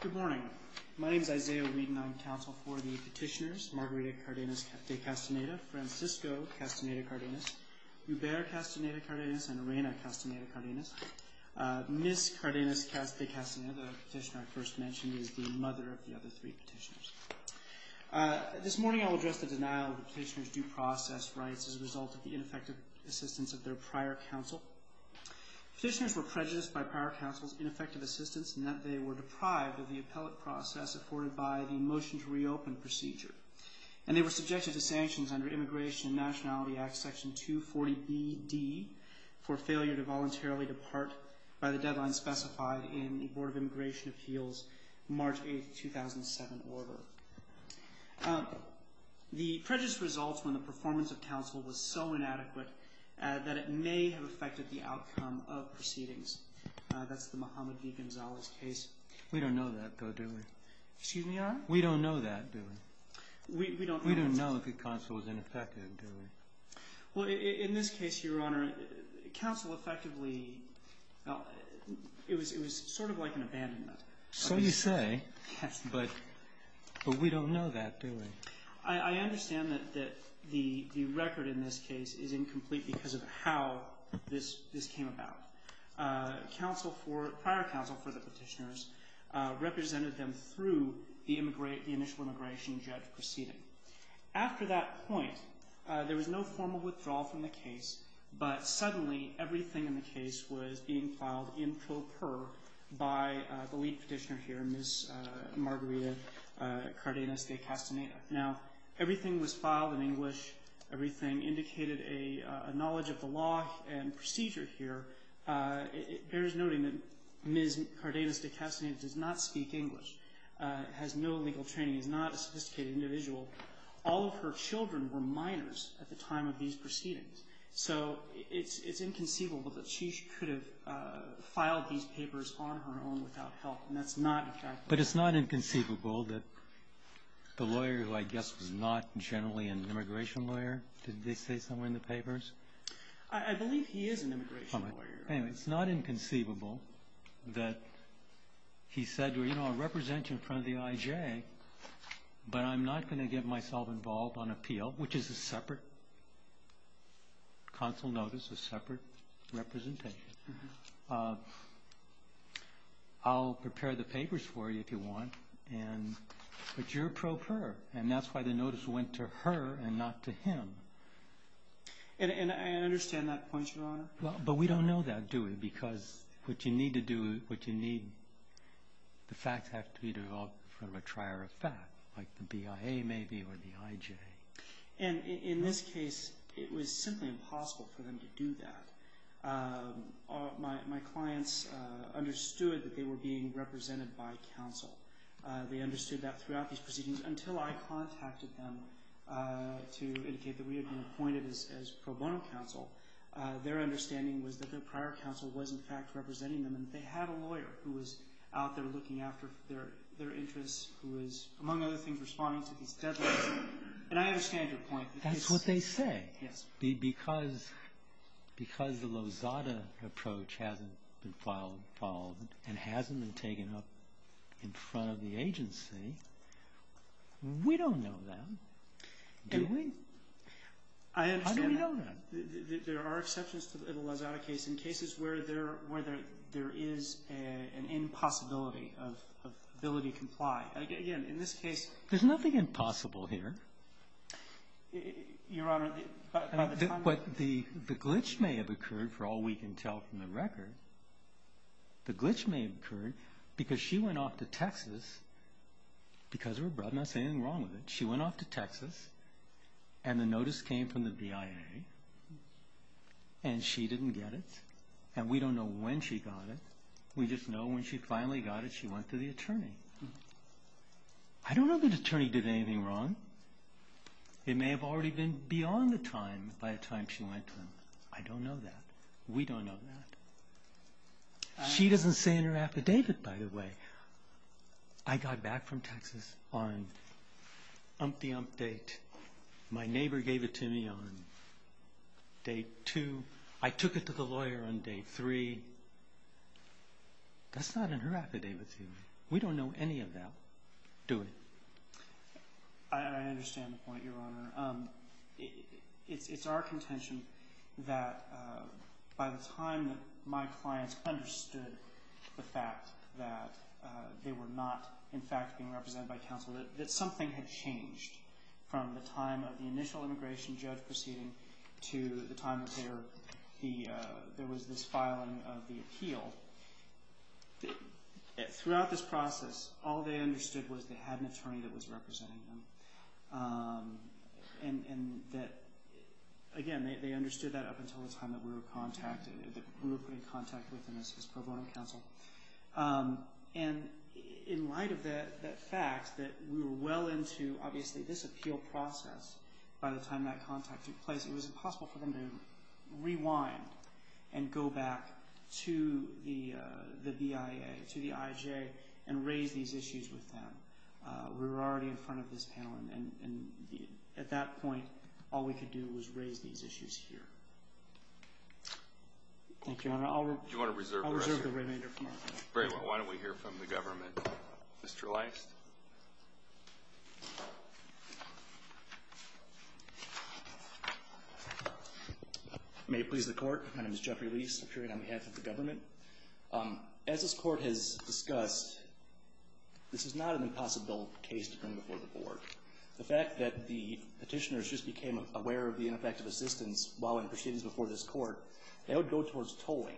Good morning. My name is Isaiah Wheaton. I'm counsel for the petitioners Margarita Cardenas De Castaneda, Francisco Castaneda Cardenas, Hubert Castaneda Cardenas, and Reina Castaneda Cardenas. Miss Cardenas De Castaneda, the petitioner I first mentioned, is the mother of the other three petitioners. This morning I will address the denial of the petitioners' due process rights as a result of the ineffective assistance of their prior counsel. Petitioners were prejudiced by prior counsel's ineffective assistance in that they were deprived of the appellate process afforded by the Motion to Reopen procedure, and they were subjected to sanctions under Immigration and Nationality Act Section 240BD for failure to voluntarily depart by the deadline specified in the Board of Immigration Appeals, March 8, 2007 order. The prejudice results when the performance of counsel was so inadequate that it may have affected the outcome of proceedings. That's the Mohammed V. Gonzales case. We don't know that, though, do we? Excuse me, Your Honor? We don't know that, do we? We don't know that. We don't know if the counsel was ineffective, do we? Well, in this case, Your Honor, counsel effectively – it was sort of like an abandonment. So you say, but we don't know that, do we? I understand that the record in this case is incomplete because of how this came about. Council for – prior counsel for the petitioners represented them through the initial immigration judge proceeding. After that point, there was no formal withdrawal from the case, but suddenly everything in the case was being filed in pro per by the lead petitioner here, Ms. Margarita Cardenas de Castaneda. Now, everything was filed in English. Everything indicated a knowledge of the law and procedure here. It bears noting that Ms. Cardenas de Castaneda does not speak English, has no legal training, is not a sophisticated individual. All of her children were minors at the time of these proceedings. So it's inconceivable that she could have filed these papers on her own without help, and that's not a fact. But it's not inconceivable that the lawyer, who I guess was not generally an immigration lawyer, did they say somewhere in the papers? I believe he is an immigration lawyer. Anyway, it's not inconceivable that he said, well, you know, I'll represent you in front of the IJ, but I'm not going to get myself involved on appeal, which is a separate counsel notice, a separate representation. I'll prepare the papers for you if you want, but you're pro per, and that's why the notice went to her and not to him. And I understand that point, Your Honor. But we don't know that, do we? Because what you need to do, what you need, the facts have to be developed from a trier of fact, like the BIA maybe or the IJ. And in this case, it was simply impossible for them to do that. My clients understood that they were being represented by counsel. They understood that throughout these proceedings until I contacted them to indicate that we had been appointed as pro bono counsel. Their understanding was that their prior counsel was, in fact, representing them. And they had a lawyer who was out there looking after their interests, who was, among other things, responding to these deadlines. And I understand your point. That's what they say. Yes. Because the Lozada approach hasn't been followed and hasn't been taken up in front of the agency, we don't know that, do we? I understand that. There are exceptions to the Lozada case in cases where there is an impossibility of ability to comply. Again, in this case — There's nothing impossible here. Your Honor, by the time — But the glitch may have occurred, for all we can tell from the record. The glitch may have occurred because she went off to Texas because of her brother. I'm not saying anything wrong with it. She went off to Texas, and the notice came from the BIA, and she didn't get it. And we don't know when she got it. We just know when she finally got it, she went to the attorney. I don't know that the attorney did anything wrong. It may have already been beyond the time by the time she went to him. I don't know that. We don't know that. She doesn't say in her affidavit, by the way. I got back from Texas on umpty-umpt date. My neighbor gave it to me on day two. I took it to the lawyer on day three. That's not in her affidavit. We don't know any of that. Do it. I understand the point, Your Honor. It's our contention that by the time that my clients understood the fact that they were not, in fact, being represented by counsel, that something had changed from the time of the initial immigration judge proceeding to the time that there was this filing of the appeal. Throughout this process, all they understood was they had an attorney that was representing them. And that, again, they understood that up until the time that we were contacted, that we were put in contact with them as pro bono counsel. And in light of that fact that we were well into, obviously, this appeal process, by the time that contact took place, it was impossible for them to rewind and go back to the BIA, to the IJ, and raise these issues with them. We were already in front of this panel, and at that point, all we could do was raise these issues here. Thank you, Your Honor. I'll reserve the remainder of my time. Great. Well, why don't we hear from the government. Mr. Leist. May it please the Court. My name is Jeffrey Leist. I'm here on behalf of the government. As this Court has discussed, this is not an impossible case to bring before the Board. The fact that the petitioners just became aware of the ineffective assistance while in proceedings before this Court, that would go towards tolling.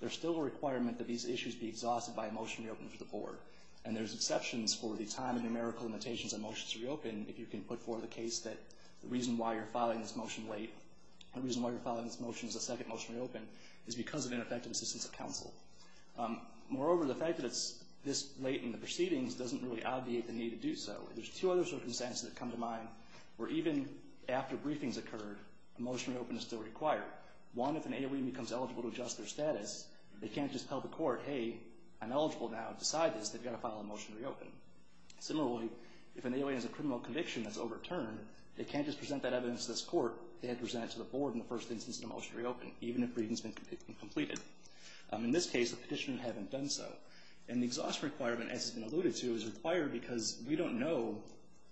There's still a requirement that these issues be exhausted by a motion to reopen to the Board. And there's exceptions for the time and numerical limitations on motions to reopen, if you can put forward the case that the reason why you're filing this motion late, the reason why you're filing this motion as a second motion to reopen, is because of ineffective assistance of counsel. Moreover, the fact that it's this late in the proceedings doesn't really obviate the need to do so. There's two other circumstances that come to mind, where even after briefings occurred, a motion to reopen is still required. One, if an AOE becomes eligible to adjust their status, they can't just tell the Court, hey, I'm eligible now, decide this, they've got to file a motion to reopen. Similarly, if an AOE has a criminal conviction that's overturned, they can't just present that evidence to this Court, they have to present it to the Board in the first instance of the motion to reopen, even if a briefing has been completed. In this case, the Petitioner haven't done so. And the exhaust requirement, as has been alluded to, is required because we don't know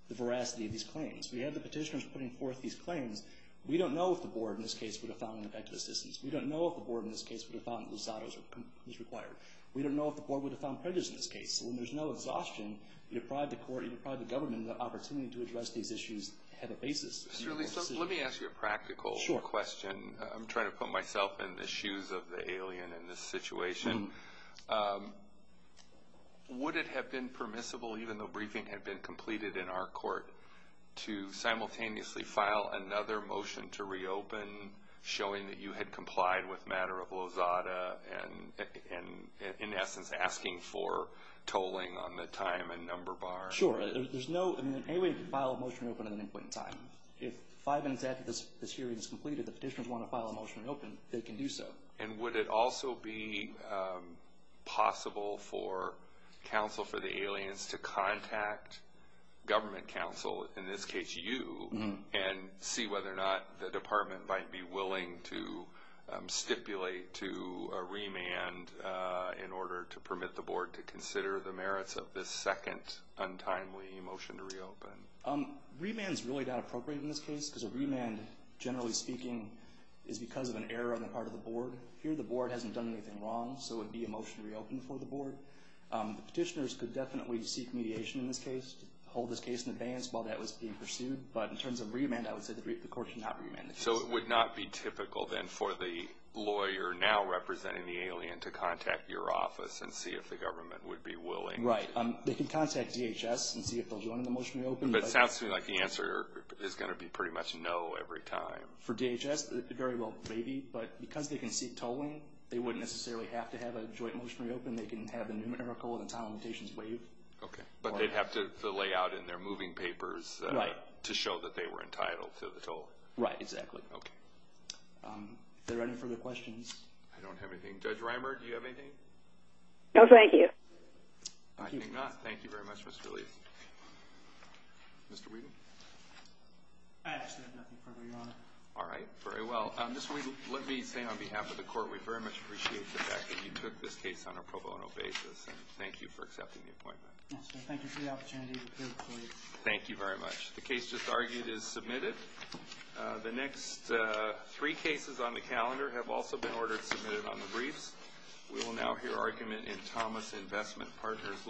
the veracity of these claims. We have the Petitioners putting forth these claims. We don't know if the Board, in this case, would have found ineffective assistance. We don't know if the Board, in this case, would have found that Losado was required. We don't know if the Board would have found prejudice in this case. So when there's no exhaustion, you deprive the Court, you deprive the government of the opportunity to address these issues ahead of basis. Let me ask you a practical question. I'm trying to put myself in the shoes of the alien in this situation. Would it have been permissible, even though briefing had been completed in our Court, to simultaneously file another motion to reopen showing that you had complied with matter of Losado and, in essence, asking for tolling on the time and number bar? Sure. There's no – I mean, in any way, you can file a motion to reopen at any point in time. If five minutes after this hearing is completed, the Petitioners want to file a motion to reopen, they can do so. And would it also be possible for counsel for the aliens to contact government counsel, in this case you, and see whether or not the Department might be willing to stipulate to a remand in order to permit the Board to consider the merits of this second untimely motion to reopen? Remand is really not appropriate in this case, because a remand, generally speaking, is because of an error on the part of the Board. Here, the Board hasn't done anything wrong, so it would be a motion to reopen for the Board. The Petitioners could definitely seek mediation in this case, hold this case in abeyance while that was being pursued. But in terms of remand, I would say the Court should not remand the case. So it would not be typical, then, for the lawyer now representing the alien to contact your office and see if the government would be willing? Right. They can contact DHS and see if they'll join in the motion to reopen. But it sounds to me like the answer is going to be pretty much no every time. For DHS, very well maybe. But because they can seek tolling, they wouldn't necessarily have to have a joint motion to reopen. They can have a numerical and a time limitations waive. But they'd have to lay out in their moving papers to show that they were entitled to the tolling. Right, exactly. Okay. Are there any further questions? I don't have anything. Judge Reimer, do you have anything? No, thank you. I think not. Thank you very much, Ms. Feliz. Mr. Wheaton? I actually have nothing further, Your Honor. All right. Very well. Ms. Wheaton, let me say on behalf of the Court, we very much appreciate the fact that you took this case on a pro bono basis. And thank you for accepting the appointment. Yes, sir. Thank you for the opportunity to appear before you. Thank you very much. The case just argued is submitted. The next three cases on the calendar have also been ordered submitted on the briefs. We will now hear argument in Thomas Investment Partners Ltd. v. The United States.